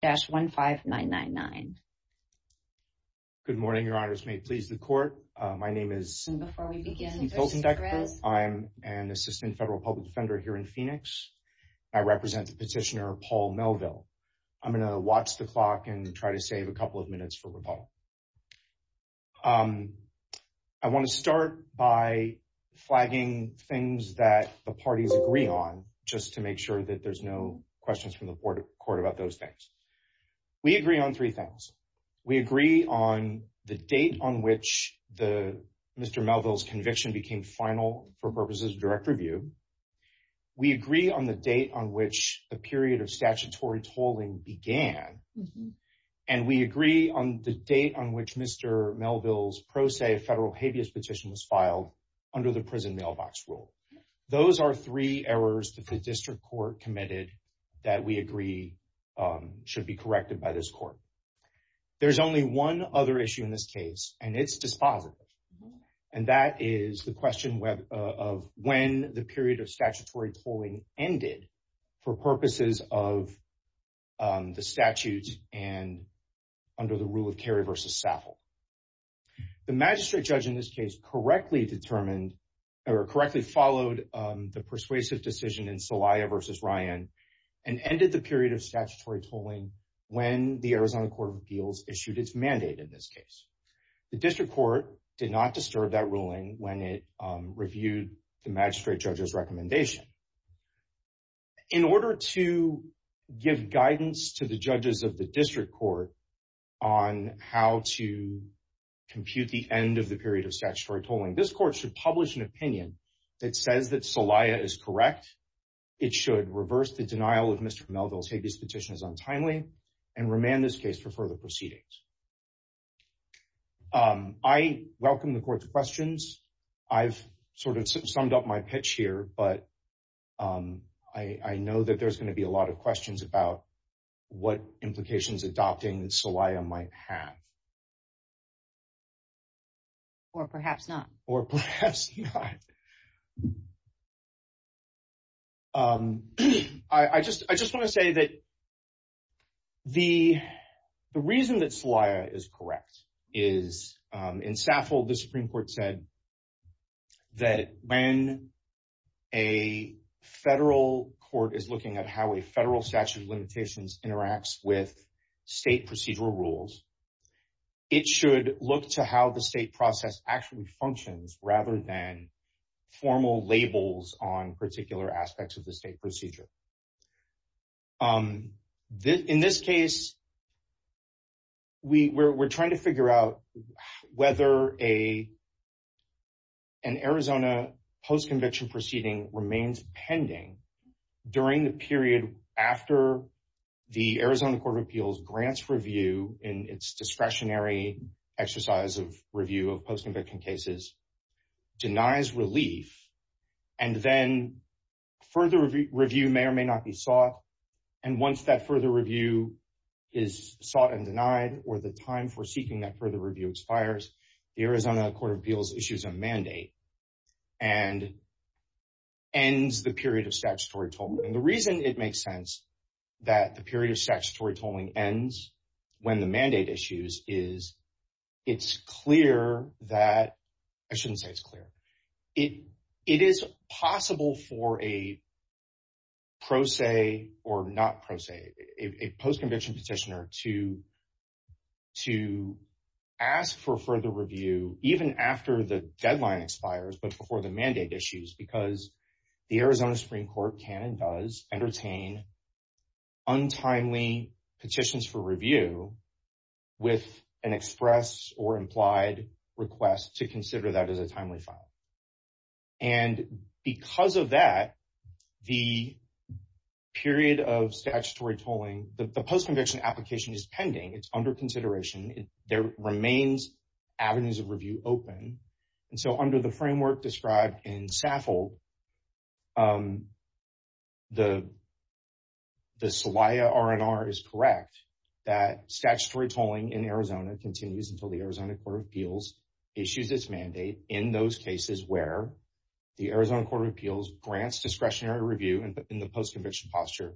Good morning, Your Honors. May it please the Court. My name is Kirsten Fulton-Decker. I'm an Assistant Federal Public Defender here in Phoenix. I represent the petitioner, Paul Melville. I'm going to watch the clock and try to save a couple of minutes for rebuttal. I want to start by flagging things that the parties agree on, just to make sure that there's no questions from the Court about those things. We agree on three things. We agree on the date on which Mr. Melville's conviction became final for purposes of direct review. We agree on the date on which the period of statutory tolling began. And we agree on the date on which Mr. Melville's pro se federal habeas petition was filed under the prison mailbox rule. Those are three errors that the District Court committed that we agree should be corrected by this Court. There's only one other issue in this case, and it's dispositive. And that is the question of when the period of statutory tolling ended for purposes of the statute and under the rule of Kerry v. Saffold. The magistrate judge in this case correctly determined or correctly followed the persuasive decision in Celaya v. Ryan and ended the period of statutory tolling when the Arizona Court of Appeals issued its mandate in this case. The District Court did not disturb that ruling when it reviewed the magistrate judge's recommendation. In order to give guidance to the judges of the District Court on how to compute the end of the period of statutory tolling, this Court should publish an opinion that says that Celaya is correct. It should reverse the denial of Mr. Melville's habeas petition as untimely and remand this case for further proceedings. I welcome the Court's questions. I've sort of summed up my pitch here, but I know that there's going to be a lot of questions about what implications adopting Celaya might have. Or perhaps not. Or perhaps not. I just want to say that the reason that Celaya is correct is in Saffold, the Supreme Court said that when a federal court is looking at how a federal statute of limitations interacts with it, it should look to how the state process actually functions rather than formal labels on particular aspects of the state procedure. In this case, we're trying to figure out whether an Arizona post-conviction proceeding remains pending during the period after the exercise of review of post-conviction cases denies relief and then further review may or may not be sought. And once that further review is sought and denied or the time for seeking that further review expires, the Arizona Court of Appeals issues a mandate and ends the period of statutory tolling. And the reason it makes sense that the period of statutory tolling ends when the mandate issues is, it's clear that, I shouldn't say it's clear, it is possible for a pro se or not pro se, a post-conviction petitioner to ask for further review, even after the deadline expires, but before the mandate issues, because the Arizona Supreme Court can and does entertain untimely petitions for review with an express or implied request to consider that as a timely file. And because of that, the period of statutory tolling, the post-conviction application is pending, it's under consideration, there remains avenues of review open. And so under the framework described in SAFL, the Celaya R&R is correct that statutory tolling in Arizona continues until the Arizona Court of Appeals issues its mandate in those cases where the Arizona Court of Appeals grants discretionary review in the post-conviction posture,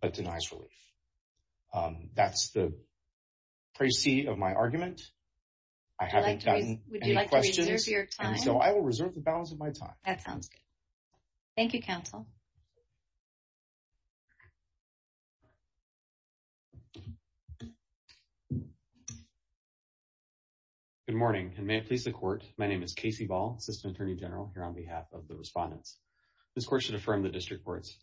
but denies relief. That's the balance of my time. That sounds good. Thank you, counsel. Good morning, and may it please the court, my name is Casey Ball, Assistant Attorney General here on behalf of the respondents. This court should affirm the district court's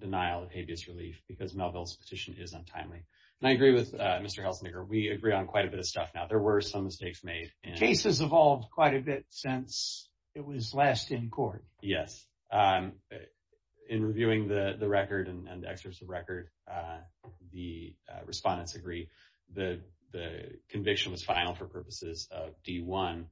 denial of habeas relief because Melville's petition is untimely. And I agree with Mr. Helsenegger, we agree on quite a bit of stuff now, there were some mistakes made. Cases evolved quite a bit since it was last in court. Yes. In reviewing the record and excerpts of record, the respondents agree the conviction was final for purposes of D1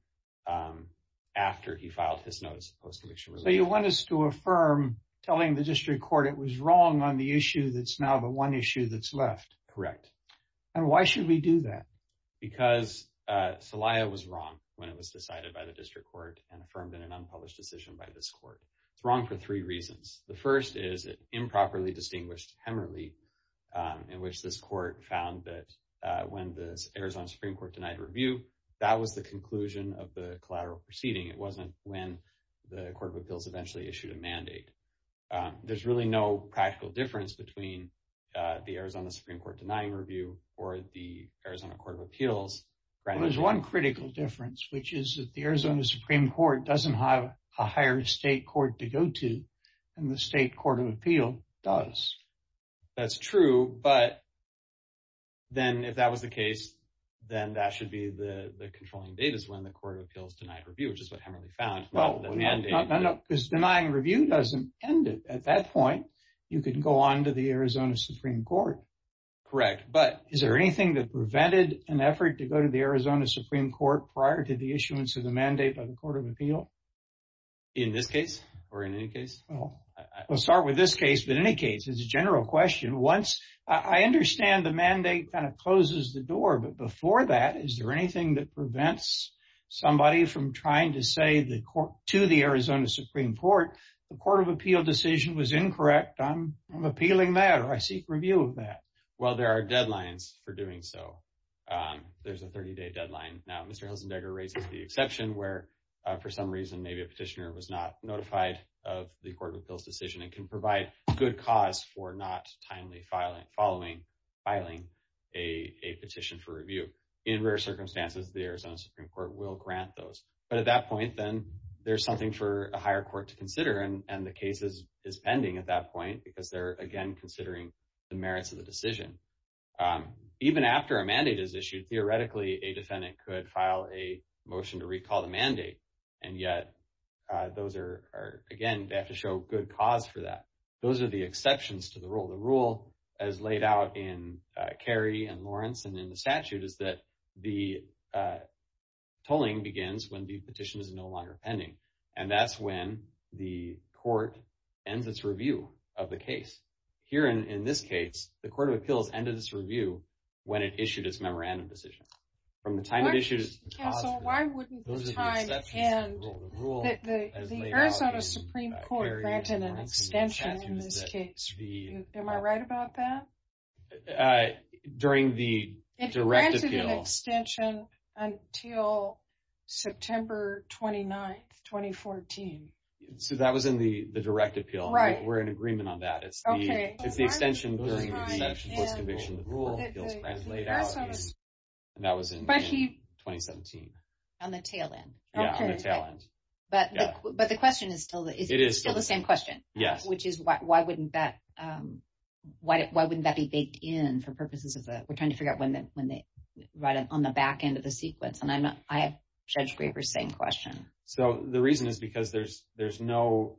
after he filed his notice of post-conviction relief. So you want us to affirm telling the district court it was wrong on the issue that's now the one issue that's left. Correct. And why should we do that? Because Celaya was wrong when it was decided by the district court and affirmed in an unpublished decision by this court. It's wrong for three reasons. The first is it improperly distinguished Hemerly, in which this court found that when the Arizona Supreme Court denied review, that was the conclusion of the collateral proceeding. It wasn't when the Court of Appeals eventually issued a mandate. There's really no practical difference between the Arizona Supreme Court denying review or the Arizona Court of Appeals. There's one critical difference, which is that the Arizona Supreme Court doesn't have a higher state court to go to than the state Court of Appeal does. That's true, but then if that was the case, then that should be the controlling date is when the Court of Appeals denied review, which is what Hemerly found. No, because denying review doesn't end it. At that point, you can go on to the Arizona Supreme Court. Correct. But is there anything that prevented an effort to go to the Arizona Supreme Court prior to the issuance of the mandate by the Court of Appeal? In this case or in any case? We'll start with this case, but in any case, it's a general question. I understand the mandate kind of closes the door, but before that, is there anything that prevents somebody from trying to say to the Arizona Supreme Court, the Court of Appeal decision was incorrect? I'm appealing that or I seek review of that. Well, there are deadlines for doing so. There's a 30-day deadline. Now, Mr. Hilsendegger raises the exception where, for some reason, maybe a petitioner was not notified of the Court of Appeals decision and can provide good cause for not timely following filing a petition for review. In rare circumstances, the Arizona Supreme Court will grant those. But at that point, then there's something for a higher court to consider. And the case is pending at that point because they're, again, considering the merits of the decision. Even after a mandate is issued, theoretically, a defendant could file a motion to recall the mandate. And yet, those are, again, they have to show good cause for that. Those are the exceptions to the rule. The rule, as laid out in Cary and Lawrence and in the statute, is that the tolling begins when the petition is no longer pending. And that's when the court ends its review of the case. Here, in this case, the Court of Appeals ended its review when it issued its memorandum decision. From the time it issued... Counsel, why wouldn't the time end? The Arizona Supreme Court granted an extension in this case. Am I right about that? During the Direct Appeal... It granted an extension until September 29th, 2014. So, that was in the Direct Appeal. We're in agreement on that. It's the extension during the post-conviction rule. And that was in 2017. On the tail end. Yeah, on the tail end. But the question is still the same question. Which is, why wouldn't that be baked in for purposes of the... We're trying to figure out when they write it on the back end of the sequence. And I have Judge Graber's same question. So, the reason is because there's no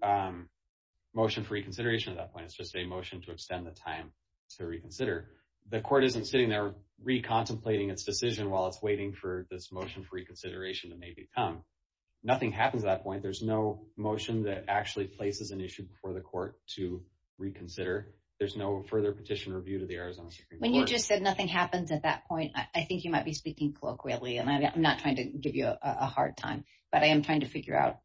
motion for reconsideration at that point. It's just a motion to extend the time to reconsider. The court isn't sitting there re-contemplating its decision while it's waiting for this motion for reconsideration to maybe come. Nothing happens at that point. There's no motion that actually places an issue before the court to reconsider. There's no further petition or review to the Arizona Supreme Court. When you just said nothing happens at that point, I think you might be speaking colloquially. And I'm not trying to give you a hard time. But I am trying to figure out,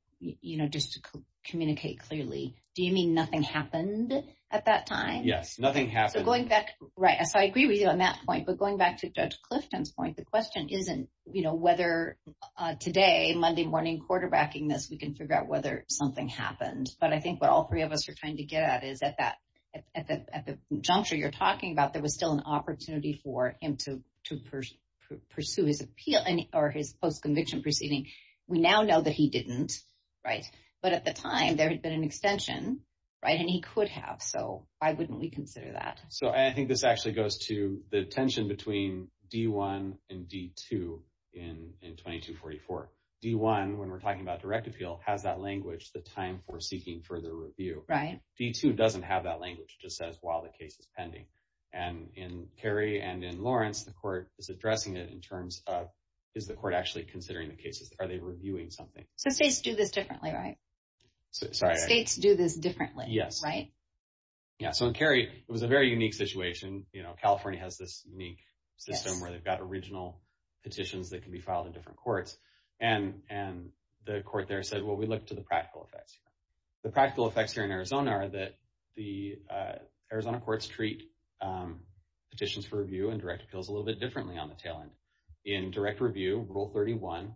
just to communicate clearly. Do you mean nothing happened at that time? Yes, nothing happened. So, going back... Right. So, I agree with you on that point. But going back to Judge Clifton's question, the question isn't whether today, Monday morning, quarterbacking this, we can figure out whether something happened. But I think what all three of us are trying to get at is that at the juncture you're talking about, there was still an opportunity for him to pursue his appeal or his post-conviction proceeding. We now know that he didn't, right? But at the time, there had been an extension, right? And he could have. So, why wouldn't we consider that? So, I think this actually goes to the tension between D-1 and D-2 in 2244. D-1, when we're talking about direct appeal, has that language, the time for seeking further review. D-2 doesn't have that language. It just says, while the case is pending. And in Kerry and in Lawrence, the court is addressing it in terms of, is the court actually considering the cases? Are they reviewing something? So, states do this differently, right? So, in Kerry, it was a very unique situation. California has this unique system where they've got original petitions that can be filed in different courts. And the court there said, well, we look to the practical effects. The practical effects here in Arizona are that the Arizona courts treat petitions for review and direct appeals a little bit differently on the tail end. In direct review, Rule 31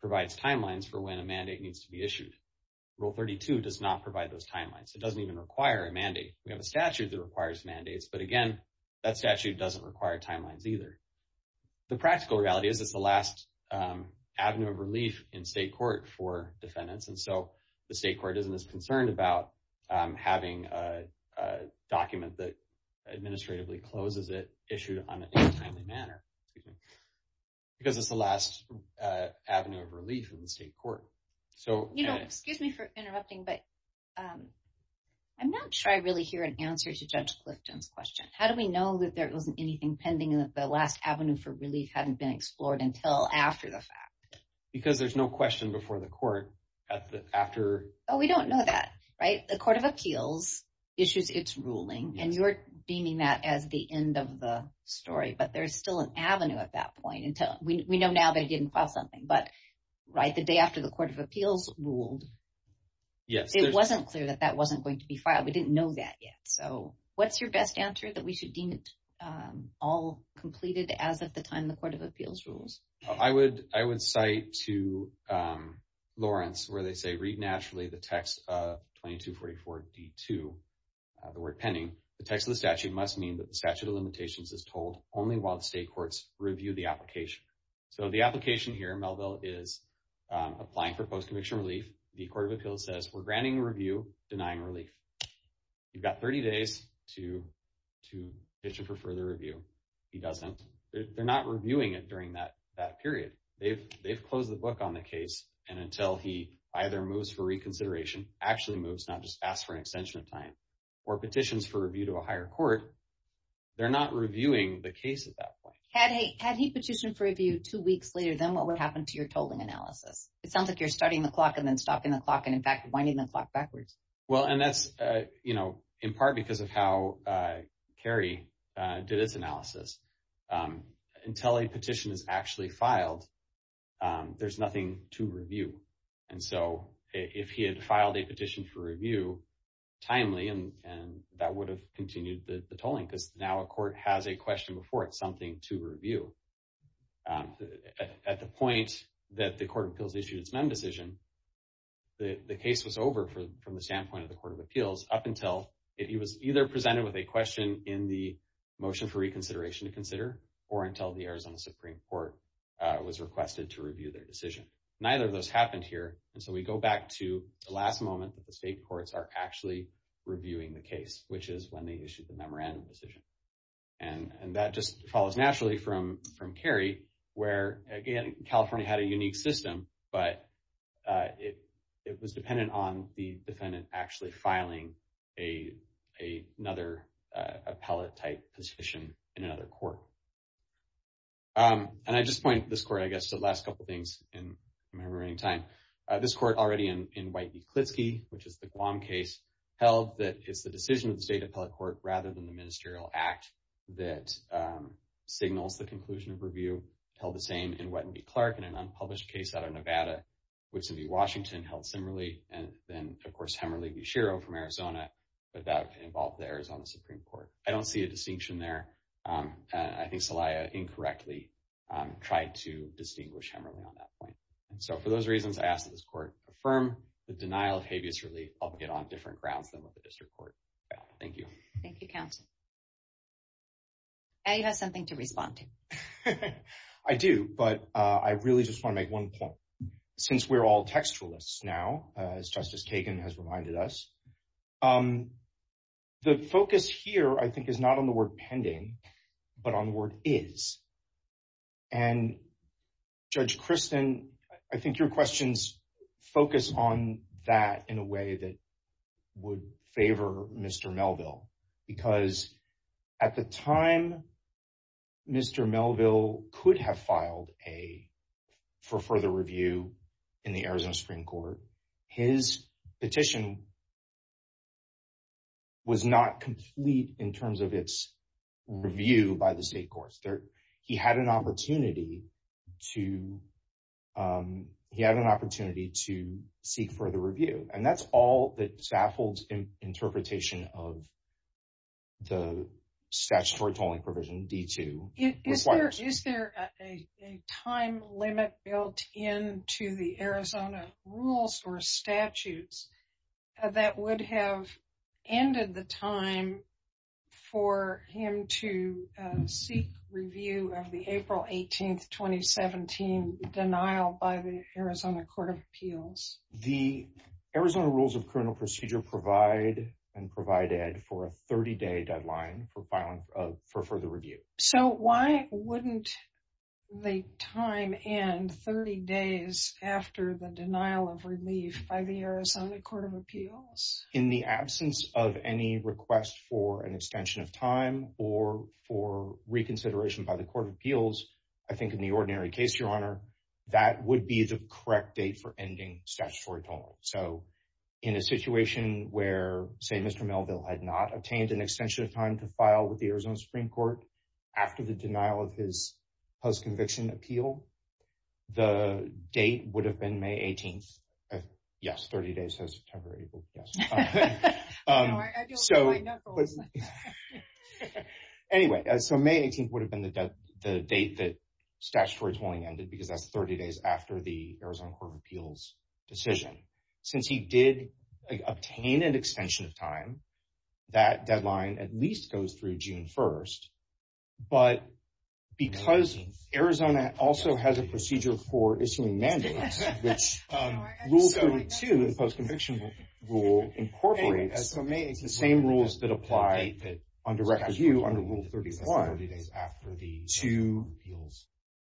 provides timelines for when a mandate needs to be issued. Rule 32 does not provide those timelines. It doesn't even require a mandate. We have a statute that requires mandates. But again, that statute doesn't require timelines either. The practical reality is it's the last avenue of relief in state court for defendants. And so, the state court isn't as concerned about having a document that administratively closes it issued in a timely manner. Because it's the last avenue of relief in the state court. You know, excuse me for interrupting, but I'm not sure I really hear an answer to Judge Clifton's question. How do we know that there wasn't anything pending and that the last avenue for relief hadn't been explored until after the fact? Because there's no question before the court at the after... Oh, we don't know that, right? The Court of Appeals issues its ruling and you're deeming that as the end of the story. But there's still an avenue at that point until... We know now they didn't file something. But right the day after the Court of Appeals ruled, it wasn't clear that that wasn't going to be filed. We didn't know that yet. So, what's your best answer that we should deem it all completed as of the time the Court of Appeals rules? I would cite to Lawrence where they say, read naturally the text of 2244D2, the word pending. The text of the statute must mean that the statute of limitations is told only while state courts review the application. So, the application here, Melville is applying for post-conviction relief. The Court of Appeals says, we're granting a review, denying relief. You've got 30 days to petition for further review. He doesn't. They're not reviewing it during that period. They've closed the book on the case. And until he either moves for reconsideration, actually moves, not just ask for an extension of time, or petitions for review to a higher court, they're not reviewing the case at that point. Had he petitioned for review two weeks later, then what would happen to your tolling analysis? It sounds like you're starting the clock and then stopping the clock, and in fact, winding the clock backwards. Well, and that's, you know, in part because of how Kerry did his analysis. Until a petition is actually filed, there's nothing to review. And so, if he had filed a petition for review, timely, and that would have continued the tolling, because now a court has a question before it, something to review. At the point that the Court of Appeals issued its MEM decision, the case was over from the standpoint of the Court of Appeals up until he was either presented with a question in the motion for reconsideration to consider, or until the Arizona Supreme Court was requested to review their decision. Neither of those happened here. And so, we go back to the last moment that the state courts are actually reviewing the case, which is when they issued the memorandum decision. And that just follows naturally from Kerry, where, again, California had a unique system, but it was dependent on the defendant actually filing another appellate-type petition in another court. And I just point this court, I guess, to the last couple things in my view. Klitsky, which is the Guam case, held that it's the decision of the state appellate court, rather than the ministerial act, that signals the conclusion of review. Held the same in Whetton v. Clark in an unpublished case out of Nevada. Woodson v. Washington held similarly. And then, of course, Hemmerly v. Shiro from Arizona, but that involved the Arizona Supreme Court. I don't see a distinction there. I think Celaya incorrectly tried to distinguish Hemmerly on that point. So, for those reasons, I ask that this court affirm the denial of habeas relief, albeit on different grounds than what the district court found. Thank you. Thank you, counsel. Now you have something to respond to. I do, but I really just want to make one point. Since we're all textualists now, as Justice Kagan has reminded us, the focus here, I think, is not on the word pending, but on the word is. And, Judge Christin, I think your questions focus on that in a way that would favor Mr. Melville. Because, at the time, Mr. Melville could have filed a, for further review, in the Arizona Supreme Court. His petition was not complete in terms of its review by the state courts. He had an opportunity to seek further review. And that's all that Stafford's interpretation of the statutory tolling provision, D-2, requires. Is there a time limit built into the Arizona rules or statutes that would have ended the time for him to seek review of the April 18, 2017 denial by the Arizona Court of Appeals? The Arizona Rules of Criminal Procedure provide and provided for a 30-day deadline for filing, for further review. So, why wouldn't the time end 30 days after the denial of relief by the Arizona Court of Appeals? In the absence of any request for an extension of time or for reconsideration by the Court of Appeals, I think in the ordinary case, Your Honor, that would be the correct date for ending statutory tolling. So, in a situation where, say, Mr. Melville had not obtained an extension of time to file with the Arizona Supreme Court after the denial of his post-conviction appeal, the date would have been May 18. Yes, 30 days, so September, April, yes. Anyway, so May 18 would have been the date that statutory tolling ended because that's 30 days after the Arizona Court of Appeals' decision. Since he did obtain an extension of time, that deadline at least goes through June 1st. But, because Arizona also has a procedure for issuing mandates, which Rule 32, the post-conviction rule, incorporates the same rules that apply on direct review under Rule 31 to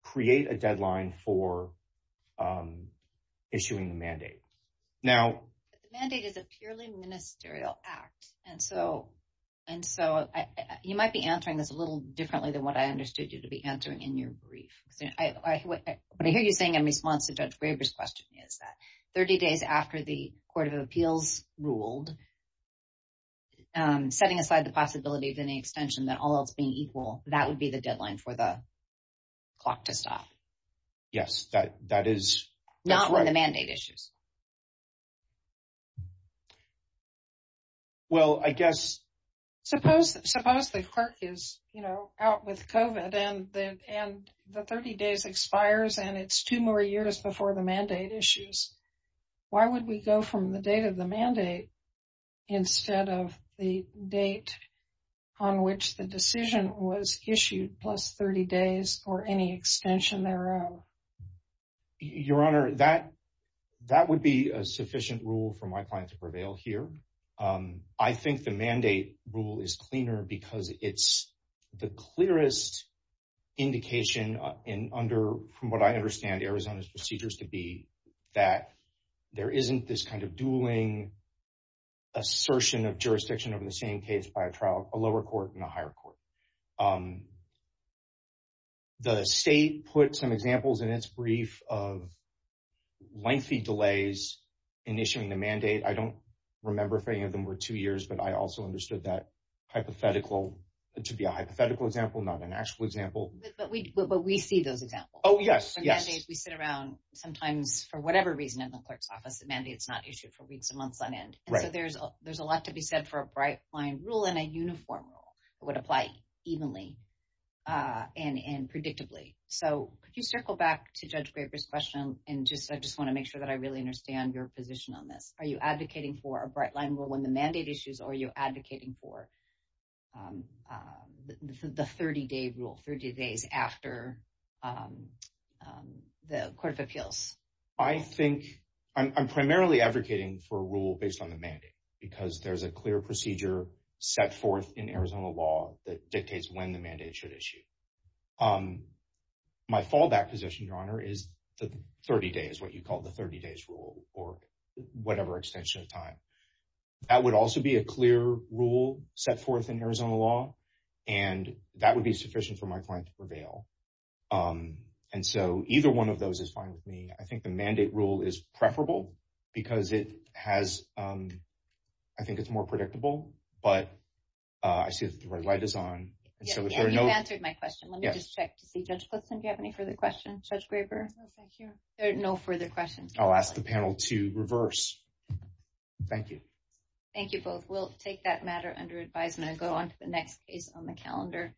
create a deadline for issuing the mandate. Now, the mandate is a purely ministerial act, and so you might be answering this a little differently than what I understood you to be answering in your brief. What I hear you saying in response to Judge Graber's question is that 30 days after the Court of Appeals ruled, setting aside the possibility of any extension, that all else being equal, that would be the deadline for the clock to stop. Yes, that is correct. Not when the mandate issues. Well, I guess... Suppose the clerk is, you know, out with COVID, and the 30 days expires, and it's two more years before the mandate issues. Why would we go from the date of the mandate instead of the date on which the decision was issued plus 30 days or any extension thereof? Your Honor, that would be a sufficient rule for my client to prevail here. I think the mandate rule is cleaner because it's the clearest indication from what I understand Arizona's procedures to be that there isn't this kind of dueling assertion of jurisdiction over the same case by a lower court and a higher court. The state put some examples in its brief of lengthy delays in issuing the mandate. I don't remember if any of them were two years, but I also understood that hypothetical. It should be a hypothetical example, not an actual example. But we see those examples. Oh, yes. Yes. We sit around sometimes for whatever reason in the clerk's office, the mandate's not issued for weeks and months on end. Right. So there's a lot to be said for a bright line rule and a uniform rule that would apply evenly and predictably. So could you circle back to Judge Graber's question? And I just want to make sure that I really understand your position on this. Are you advocating for a bright line rule when the mandate issues or are you advocating for the 30-day rule, 30 days after the Court of Appeals? I think I'm primarily advocating for based on the mandate because there's a clear procedure set forth in Arizona law that dictates when the mandate should issue. My fallback position, Your Honor, is the 30 days, what you call the 30 days rule or whatever extension of time. That would also be a clear rule set forth in Arizona law, and that would be sufficient for my client to prevail. And so either one of those is fine with me. I think the mandate rule is preferable because it has, I think it's more predictable, but I see that the red light is on. You answered my question. Let me just check to see. Judge Plitzen, do you have any further questions? Judge Graber? No, thank you. There are no further questions. I'll ask the panel to reverse. Thank you. Thank you both. We'll take that matter under advisement and go on to the next case on the calendar.